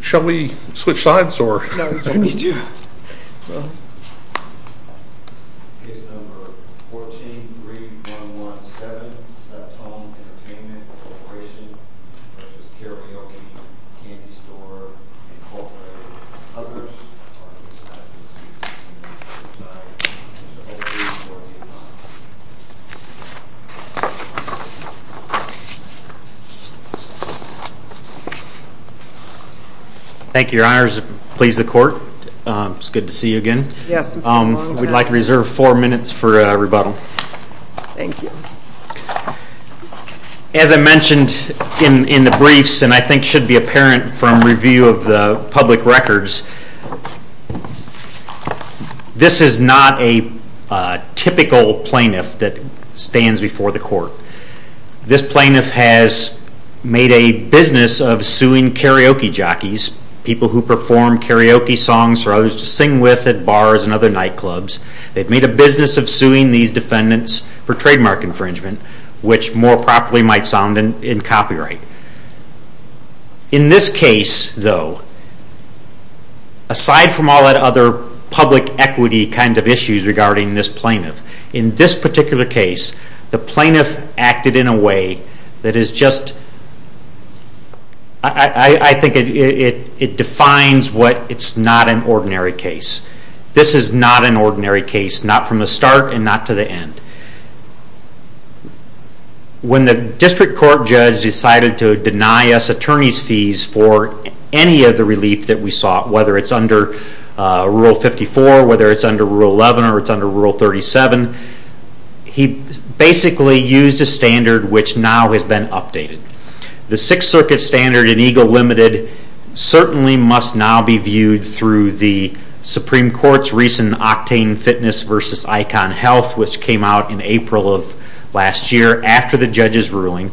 Shall we switch sides? No, we don't need to. Thank you, your honors. Please, the court. It's good to see you again. Yes, it's been a long time. We'd like to reserve four minutes for rebuttal. Thank you. As I mentioned in the briefs, and I think should be apparent from review of the public records, this is not a typical plaintiff that stands before the court. This plaintiff has made a business of suing karaoke jockeys, people who perform karaoke songs for others to sing with at bars and other nightclubs. They've made a business of suing these defendants for trademark infringement, which more properly might sound in copyright. In this case, though, aside from all that other public equity kind of issues regarding this plaintiff, in this particular case, the plaintiff acted in a way that is just, I think it defines what it's not an ordinary case. This is not an ordinary case, not from the start and not to the end. When the district court judge decided to deny us attorney's fees for any of the relief that we sought, whether it's under Rule 54, whether it's under Rule 11, or it's under Rule 37, he basically used a standard which now has been updated. The Sixth Circuit standard in EGLE Limited certainly must now be viewed through the Supreme Court's recent Octane Fitness v. Icon Health, which came out in April of last year after the judge's ruling.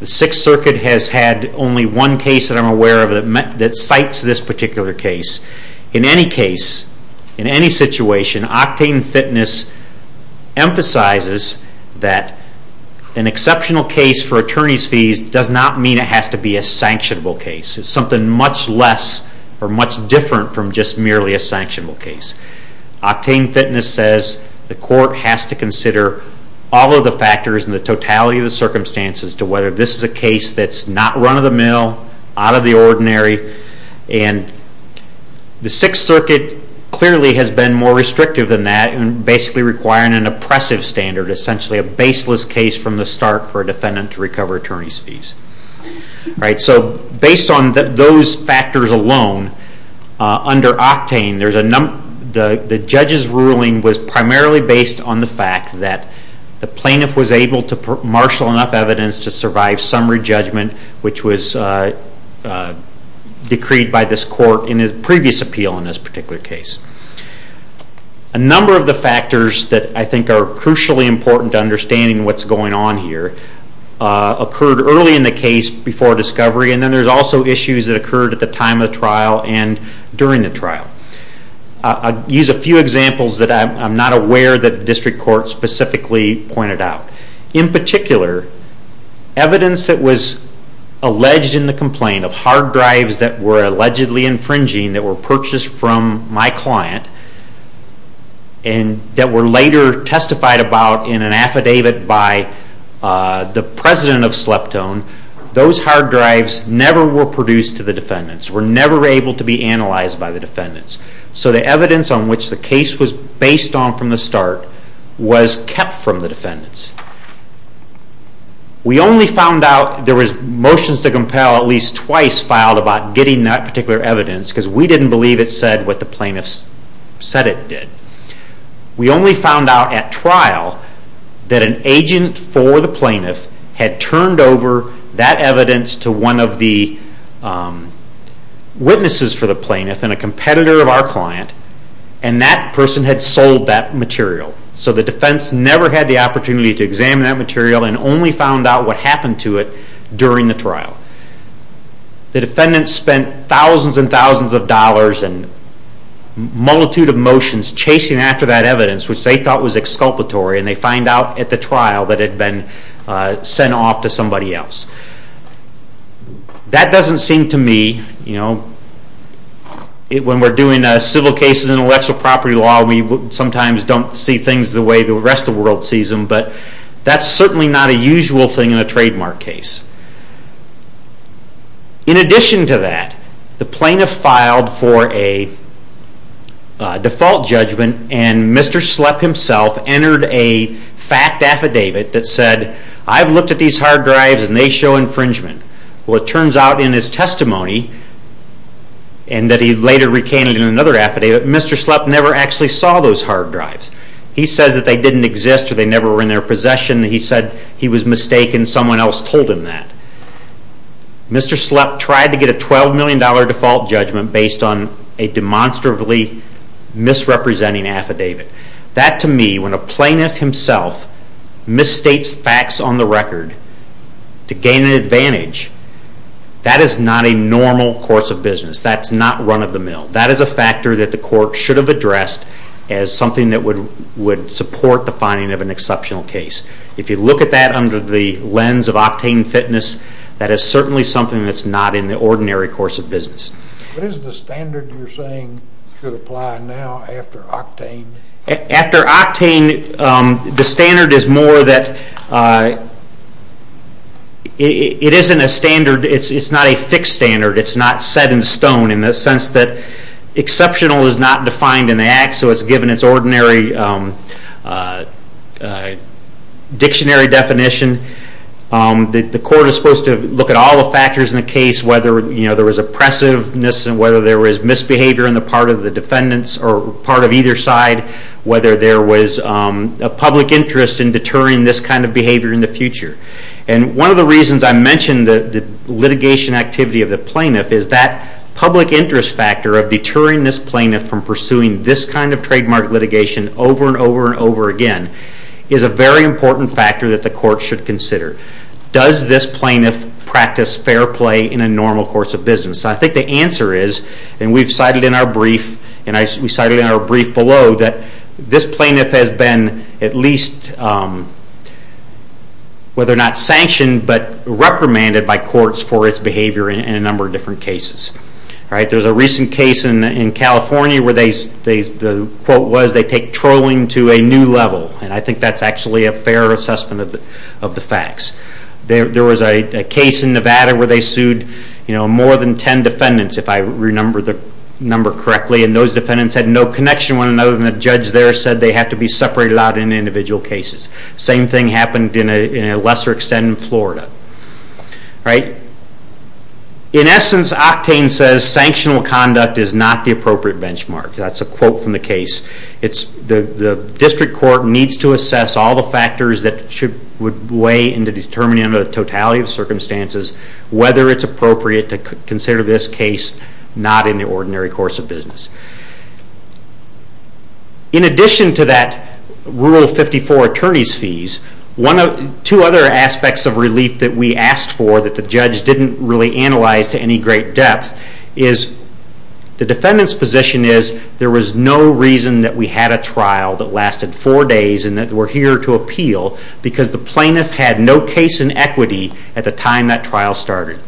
The Sixth Circuit has had only one case that I'm aware of that cites this particular case. In any case, in any situation, Octane Fitness emphasizes that an exceptional case for attorney's fees does not mean it has to be a sanctionable case. It's something much less or much different from just merely a sanctionable case. Octane Fitness says the court has to consider all of the factors and the totality of the circumstances to whether this is a case that's not run-of-the-mill, out of the ordinary. The Sixth Circuit clearly has been more restrictive than that and basically requiring an oppressive standard, essentially a baseless case from the start for a defendant to recover attorney's fees. Based on those factors alone, under Octane, the judge's ruling was primarily based on the fact that the plaintiff was able to marshal enough evidence to survive summary judgment, which was decreed by this court in his previous appeal in this particular case. A number of the factors that I think are crucially important to understanding what's going on here occurred early in the case before discovery, and then there's also issues that occurred at the time of the trial and during the trial. I'll use a few examples that I'm not aware that the district court specifically pointed out. In particular, evidence that was alleged in the complaint of hard drives that were allegedly infringing, that were purchased from my client, and that were later testified about in an affidavit by the president of Sleptone, those hard drives never were produced to the defendants, were never able to be analyzed by the defendants. So the evidence on which the case was based on from the start was kept from the defendants. We only found out there were motions to compel at least twice filed about getting that particular evidence because we didn't believe it said what the plaintiffs said it did. We only found out at trial that an agent for the plaintiff had turned over that evidence to one of the witnesses for the plaintiff and a competitor of our client, and that person had sold that material. So the defense never had the opportunity to examine that material and only found out what happened to it during the trial. The defendants spent thousands and thousands of dollars and a multitude of motions chasing after that evidence, which they thought was exculpatory, and they find out at the trial that it had been sent off to somebody else. That doesn't seem to me, you know, when we're doing civil cases in intellectual property law, we sometimes don't see things the way the rest of the world sees them, but that's certainly not a usual thing in a trademark case. In addition to that, the plaintiff filed for a default judgment and Mr. Slepp himself entered a fact affidavit that said, I've looked at these hard drives and they show infringement. Well, it turns out in his testimony, and that he later recanted in another affidavit, Mr. Slepp never actually saw those hard drives. He says that they didn't exist or they never were in their possession. He said he was mistaken. Someone else told him that. Mr. Slepp tried to get a $12 million default judgment based on a demonstrably misrepresenting affidavit. That, to me, when a plaintiff himself misstates facts on the record to gain an advantage, that is not a normal course of business. That's not run-of-the-mill. That is a factor that the court should have addressed as something that would support the finding of an exceptional case. If you look at that under the lens of octane fitness, that is certainly something that's not in the ordinary course of business. What is the standard you're saying should apply now after octane? After octane, the standard is more that it isn't a standard, it's not a fixed standard, it's not set in stone in the sense that exceptional is not defined in the act, so it's given its ordinary dictionary definition. The court is supposed to look at all the factors in the case, whether there was oppressiveness, whether there was misbehavior on the part of the defendants or part of either side, whether there was a public interest in deterring this kind of behavior in the future. One of the reasons I mentioned the litigation activity of the plaintiff is that public interest factor of deterring this plaintiff from pursuing this kind of trademark litigation over and over and over again is a very important factor that the court should consider. Does this plaintiff practice fair play in a normal course of business? I think the answer is, and we've cited in our brief below, that this plaintiff has been at least, whether or not sanctioned, but reprimanded by courts for its behavior in a number of different cases. There's a recent case in California where the quote was, they take trolling to a new level, and I think that's actually a fair assessment of the facts. There was a case in Nevada where they sued more than 10 defendants, if I remember the number correctly, and those defendants had no connection when another judge there said they had to be separated out in individual cases. Same thing happened in a lesser extent in Florida. In essence, Octane says, sanctional conduct is not the appropriate benchmark. That's a quote from the case. The district court needs to assess all the factors that would weigh into determining the totality of circumstances, whether it's appropriate to consider this case not in the ordinary course of business. In addition to that Rule 54 attorney's fees, two other aspects of relief that we asked for that the judge didn't really analyze to any great depth is the defendant's position is, there was no reason that we had a trial that lasted four days and that we're here to appeal, because the plaintiff had no case in equity at the time that trial started.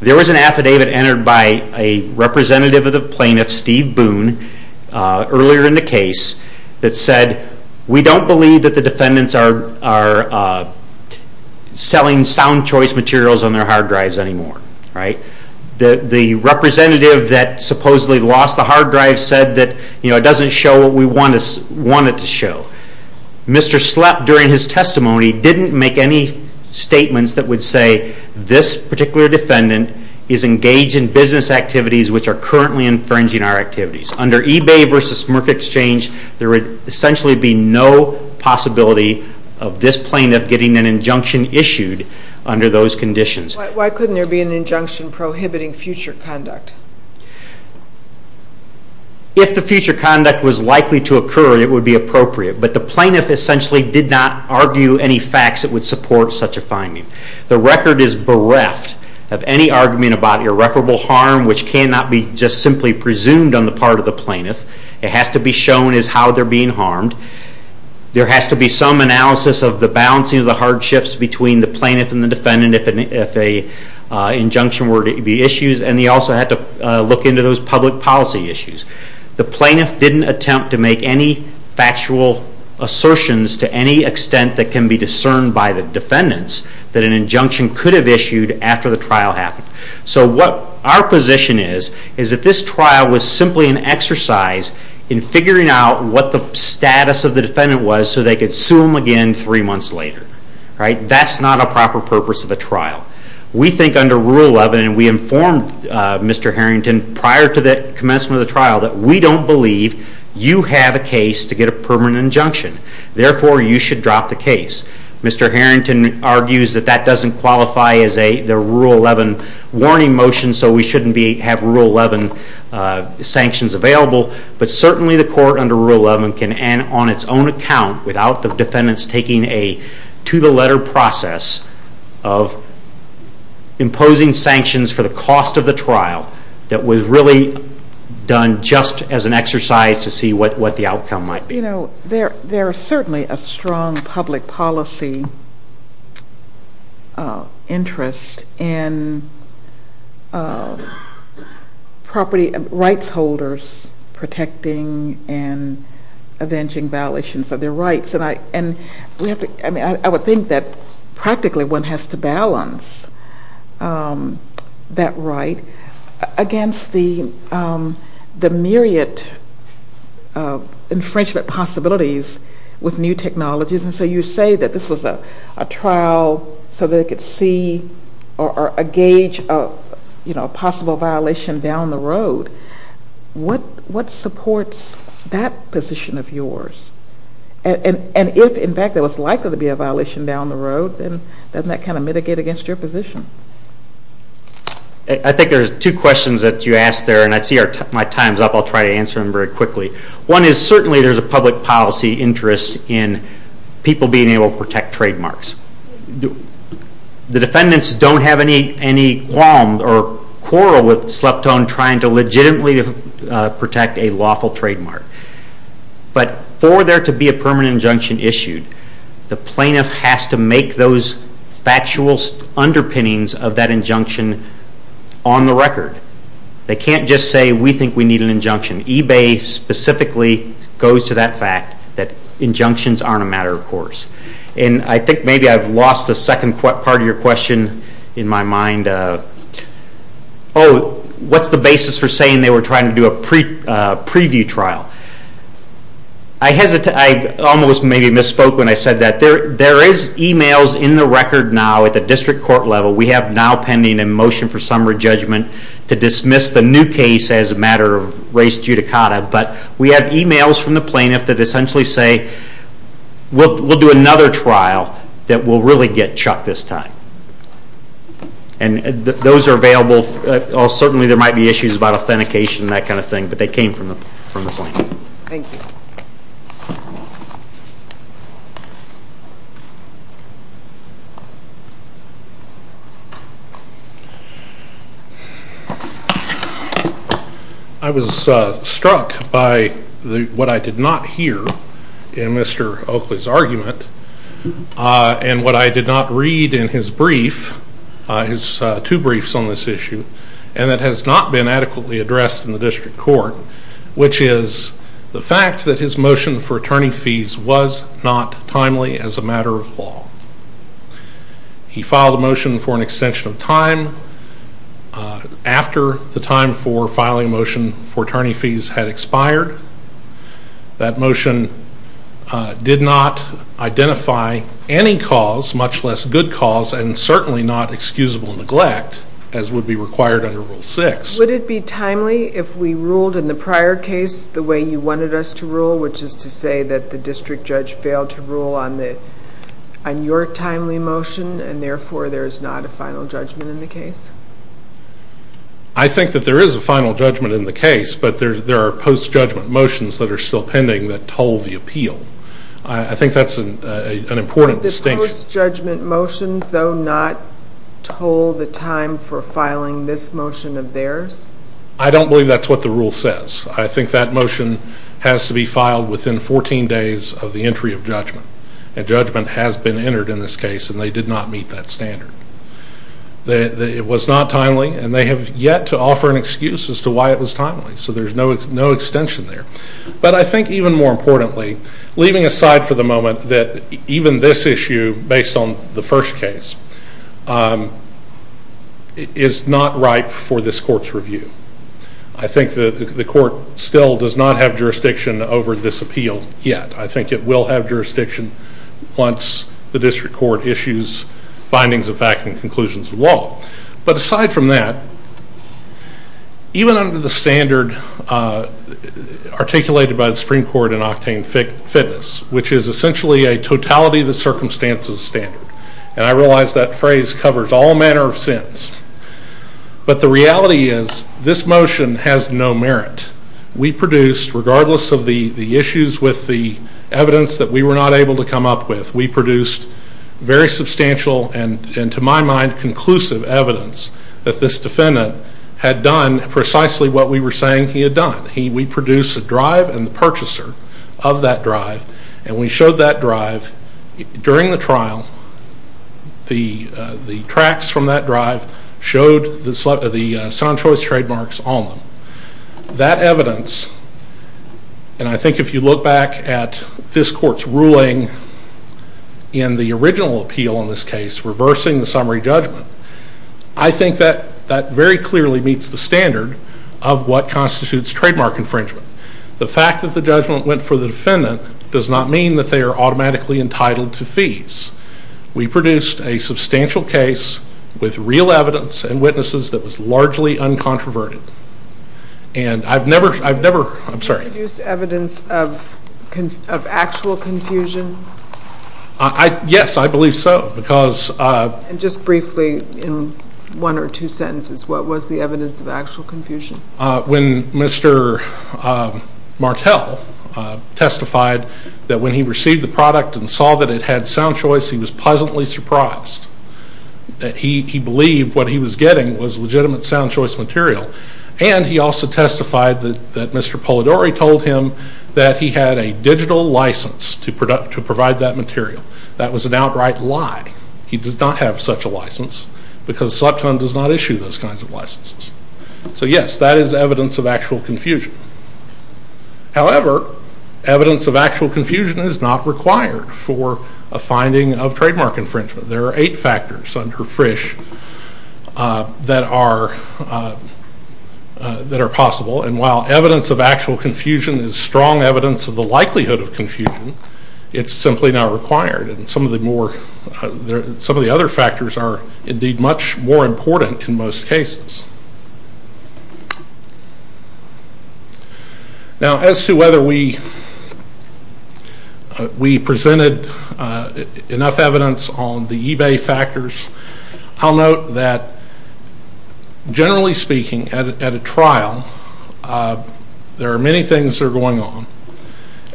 There was an affidavit entered by a representative of the plaintiff, Steve Boone, earlier in the case that said, we don't believe that the defendants are selling sound choice materials on their hard drives anymore. The representative that supposedly lost the hard drive said that it doesn't show what we want it to show. Mr. Slepp, during his testimony, didn't make any statements that would say this particular defendant is engaged in business activities which are currently infringing our activities. Under eBay versus Merck Exchange, there would essentially be no possibility of this plaintiff getting an injunction issued under those conditions. Why couldn't there be an injunction prohibiting future conduct? If the future conduct was likely to occur, it would be appropriate. But the plaintiff essentially did not argue any facts that would support such a finding. The record is bereft of any argument about irreparable harm which cannot be just simply presumed on the part of the plaintiff. It has to be shown as how they're being harmed. There has to be some analysis of the balancing of the hardships between the plaintiff and the defendant if an injunction were to be issued. And he also had to look into those public policy issues. The plaintiff didn't attempt to make any factual assertions to any extent that can be discerned by the defendants that an injunction could have issued after the trial happened. Our position is that this trial was simply an exercise in figuring out what the status of the defendant was so they could sue him again three months later. That's not a proper purpose of a trial. We think under Rule 11, and we informed Mr. Harrington prior to the commencement of the trial, that we don't believe you have a case to get a permanent injunction. Therefore, you should drop the case. Mr. Harrington argues that doesn't qualify as a Rule 11 warning motion, so we shouldn't have Rule 11 sanctions available. But certainly the court under Rule 11 can, on its own account, without the defendants taking a to-the-letter process of imposing sanctions for the cost of the trial, that was really done just as an exercise to see what the outcome might be. You know, there is certainly a strong public policy interest in property rights holders protecting and avenging violations of their rights. And I would think that practically one has to balance that right against the myriad infringement possibilities with new technologies. And so you say that this was a trial so they could see or gauge a possible violation down the road. What supports that position of yours? And if, in fact, there was likely to be a violation down the road, then doesn't that kind of mitigate against your position? I think there are two questions that you asked there, and I see my time's up. I'll try to answer them very quickly. One is certainly there's a public policy interest in people being able to protect trademarks. The defendants don't have any qualms or quarrel with Sleptone trying to legitimately protect a lawful trademark. But for there to be a permanent injunction issued, the plaintiff has to make those factual underpinnings of that injunction on the record. They can't just say, we think we need an injunction. eBay specifically goes to that fact that injunctions aren't a matter of course. And I think maybe I've lost the second part of your question in my mind. Oh, what's the basis for saying they were trying to do a preview trial? I almost maybe misspoke when I said that. There is e-mails in the record now at the district court level. We have now pending a motion for summary judgment to dismiss the new case as a matter of race judicata. But we have e-mails from the plaintiff that essentially say, we'll do another trial that will really get Chuck this time. And those are available. Certainly there might be issues about authentication and that kind of thing, but they came from the plaintiff. Thank you. I was struck by what I did not hear in Mr. Oakley's argument and what I did not read in his brief, his two briefs on this issue, and that has not been adequately addressed in the district court, which is the fact that his motion for attorney fees was not timely as a matter of law. He filed a motion for an extension of time after the time for filing a motion for attorney fees had expired. That motion did not identify any cause, much less good cause, and certainly not excusable neglect, as would be required under Rule 6. Would it be timely if we ruled in the prior case the way you wanted us to rule, which is to say that the district judge failed to rule on your timely motion and therefore there is not a final judgment in the case? I think that there is a final judgment in the case, but there are post-judgment motions that are still pending that told the appeal. I think that's an important distinction. Are the post-judgment motions, though, not told the time for filing this motion of theirs? I don't believe that's what the rule says. I think that motion has to be filed within 14 days of the entry of judgment, and judgment has been entered in this case, and they did not meet that standard. It was not timely, and they have yet to offer an excuse as to why it was timely, so there's no extension there. But I think, even more importantly, leaving aside for the moment that even this issue, based on the first case, is not ripe for this court's review. I think the court still does not have jurisdiction over this appeal yet. I think it will have jurisdiction once the district court issues findings of fact and conclusions of law. But aside from that, even under the standard articulated by the Supreme Court in Octane Fitness, which is essentially a totality of the circumstances standard, and I realize that phrase covers all manner of sins, but the reality is this motion has no merit. We produced, regardless of the issues with the evidence that we were not able to come up with, we produced very substantial and, to my mind, conclusive evidence that this defendant had done precisely what we were saying he had done. We produced a drive and the purchaser of that drive, and we showed that drive during the trial. The tracks from that drive showed the sound choice trademarks on them. That evidence, and I think if you look back at this court's ruling in the original appeal in this case, reversing the summary judgment, I think that that very clearly meets the standard of what constitutes trademark infringement. The fact that the judgment went for the defendant does not mean that they are automatically entitled to fees. We produced a substantial case with real evidence and witnesses that was largely uncontroverted, and I've never, I've never, I'm sorry. Did you produce evidence of actual confusion? Yes, I believe so, because... And just briefly, in one or two sentences, what was the evidence of actual confusion? When Mr. Martell testified that when he received the product and saw that it had sound choice, he was pleasantly surprised. He believed what he was getting was legitimate sound choice material, and he also testified that Mr. Polidori told him that he had a digital license to provide that material. That was an outright lie. He does not have such a license, because SLEPTON does not issue those kinds of licenses. So yes, that is evidence of actual confusion. However, evidence of actual confusion is not required for a finding of trademark infringement. There are eight factors under Frisch that are possible, and while evidence of actual confusion is strong evidence of the likelihood of confusion, it's simply not required. And some of the more, some of the other factors are indeed much more important in most cases. Now, as to whether we presented enough evidence on the eBay factors, I'll note that generally speaking, at a trial, there are many things that are going on.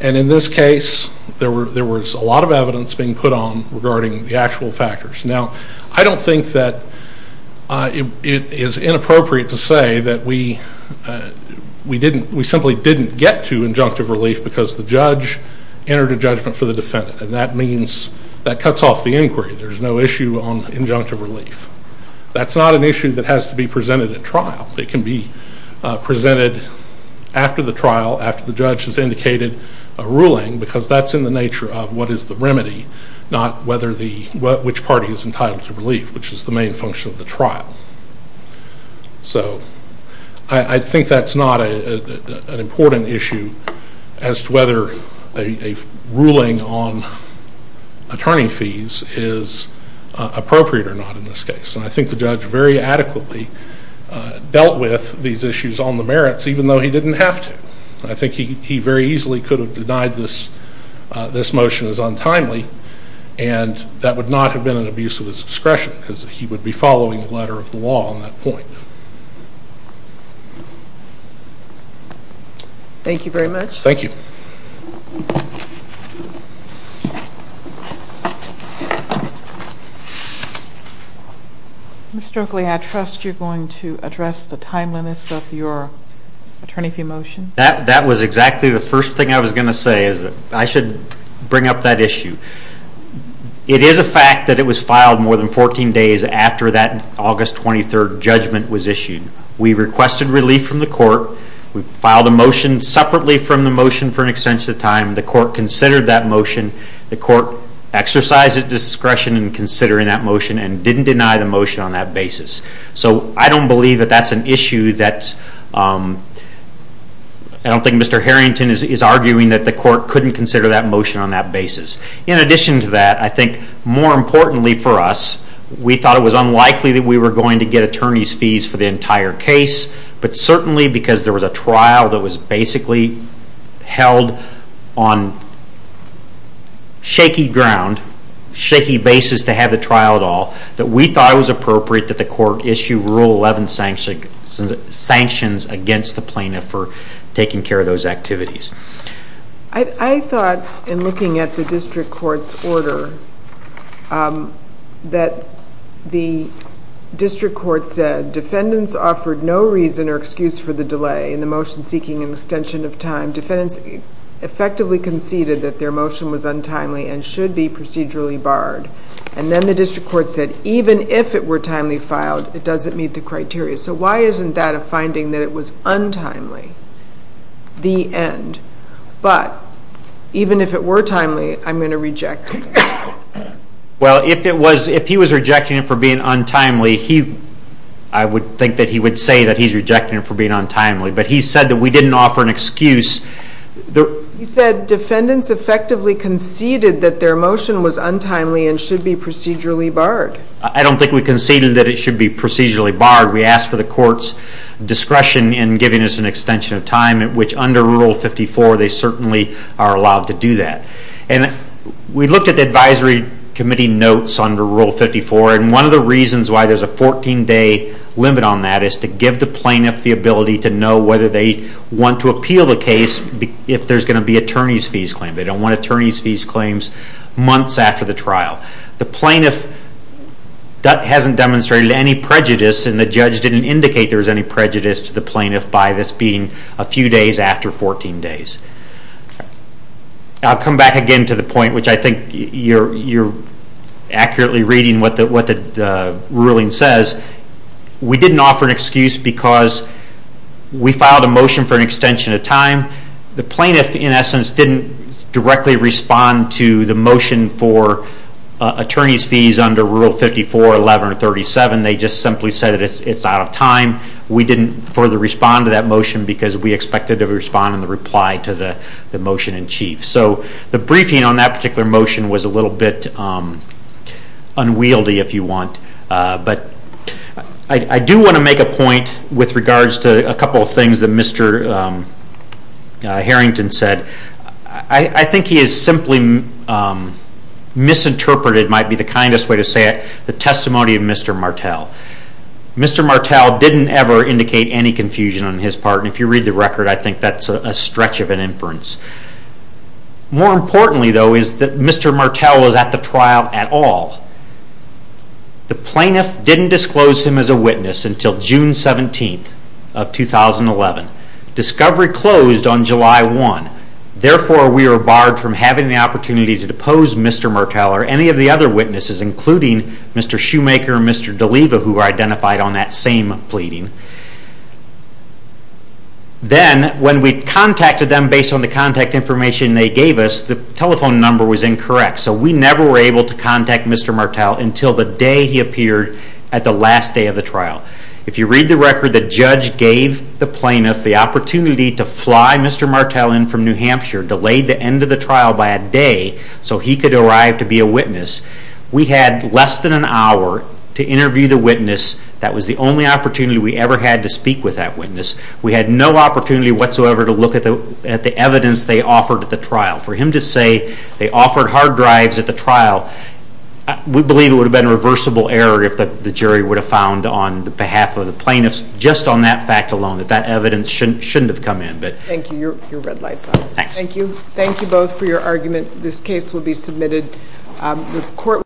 And in this case, there was a lot of evidence being put on regarding the actual factors. Now, I don't think that it is inappropriate to say that we simply didn't get to injunctive relief because the judge entered a judgment for the defendant, and that means that cuts off the inquiry. There's no issue on injunctive relief. That's not an issue that has to be presented at trial. It can be presented after the trial, after the judge has indicated a ruling, because that's in the nature of what is the remedy, not which party is entitled to relief, which is the main function of the trial. So I think that's not an important issue as to whether a ruling on attorney fees is appropriate or not in this case. And I think the judge very adequately dealt with these issues on the merits, even though he didn't have to. I think he very easily could have denied this motion as untimely, and that would not have been an abuse of his discretion because he would be following the letter of the law on that point. Thank you very much. Thank you. Mr. Oakley, I trust you're going to address the timeliness of your attorney fee motion. That was exactly the first thing I was going to say is that I should bring up that issue. It is a fact that it was filed more than 14 days after that August 23 judgment was filed. We requested relief from the court. We filed a motion separately from the motion for an extension of time. The court considered that motion. The court exercised its discretion in considering that motion and didn't deny the motion on that basis. So I don't think Mr. Harrington is arguing that the court couldn't consider that motion on that basis. In addition to that, I think more importantly for us, we thought it was unlikely that we were going to get attorney's fees for the entire case, but certainly because there was a trial that was basically held on shaky ground, shaky basis to have the trial at all, that we thought it was appropriate that the court issue Rule 11 sanctions against the plaintiff for taking care of those activities. I thought in looking at the district court's order that the district court said defendants offered no reason or excuse for the delay in the motion seeking an extension of time. Defendants effectively conceded that their motion was untimely and should be procedurally barred. And then the district court said even if it were timely filed, it doesn't meet the criteria. So why isn't that a finding that it was untimely, the end? But even if it were timely, I'm going to reject it. Well, if he was rejecting it for being untimely, I would think that he would say that he's rejecting it for being untimely. But he said that we didn't offer an excuse. He said defendants effectively conceded that their motion was untimely and should be procedurally barred. I don't think we conceded that it should be procedurally barred. We asked for the court's discretion in giving us an extension of time, which under Rule 54, they certainly are allowed to do that. We looked at the advisory committee notes under Rule 54, and one of the reasons why there's a 14-day limit on that is to give the plaintiff the ability to know whether they want to appeal the case if there's going to be an attorney's fees claim. They don't want attorney's fees claims months after the trial. The plaintiff hasn't demonstrated any prejudice, and the judge didn't indicate there was any prejudice to the plaintiff by this being a few days after 14 days. I'll come back again to the point, which I think you're accurately reading what the ruling says. We didn't offer an excuse because we filed a motion for an extension of time. The plaintiff, in essence, didn't directly respond to the motion for attorney's fees under Rule 54, 11, or 37. They just simply said it's out of time. We didn't further respond to that motion because we expected to respond in reply to the motion in chief. So the briefing on that particular motion was a little bit unwieldy, if you want. I do want to make a point with regards to a couple of things that Mr. Harrington said. I think he has simply misinterpreted, it might be the kindest way to say it, the testimony of Mr. Martel. Mr. Martel didn't ever indicate any confusion on his part. If you read the record, I think that's a stretch of an inference. More importantly, though, is that Mr. Martel was at the trial at all. The plaintiff didn't disclose him as a witness until June 17, 2011. Discovery closed on July 1. Therefore, we were barred from having the opportunity to depose Mr. Martel or any of the other witnesses, including Mr. Shoemaker and Mr. DeLiva, who were identified on that same pleading. Then, when we contacted them based on the contact information they gave us, the telephone number was incorrect. So we never were able to contact Mr. Martel until the day he appeared at the last day of the trial. If you read the record, the judge gave the plaintiff the opportunity to fly Mr. Martel in from New Hampshire, delayed the end of the trial by a day so he could arrive to be a witness. We had less than an hour to interview the witness. That was the only opportunity we ever had to speak with that witness. We had no opportunity whatsoever to look at the evidence they offered at the trial. For him to say they offered hard drives at the trial, we believe it would have been a reversible error if the jury would have found on behalf of the plaintiffs, just on that fact alone, that that evidence shouldn't have come in. Thank you. Your red light's on. Thank you. Thank you both for your argument. This case will be submitted.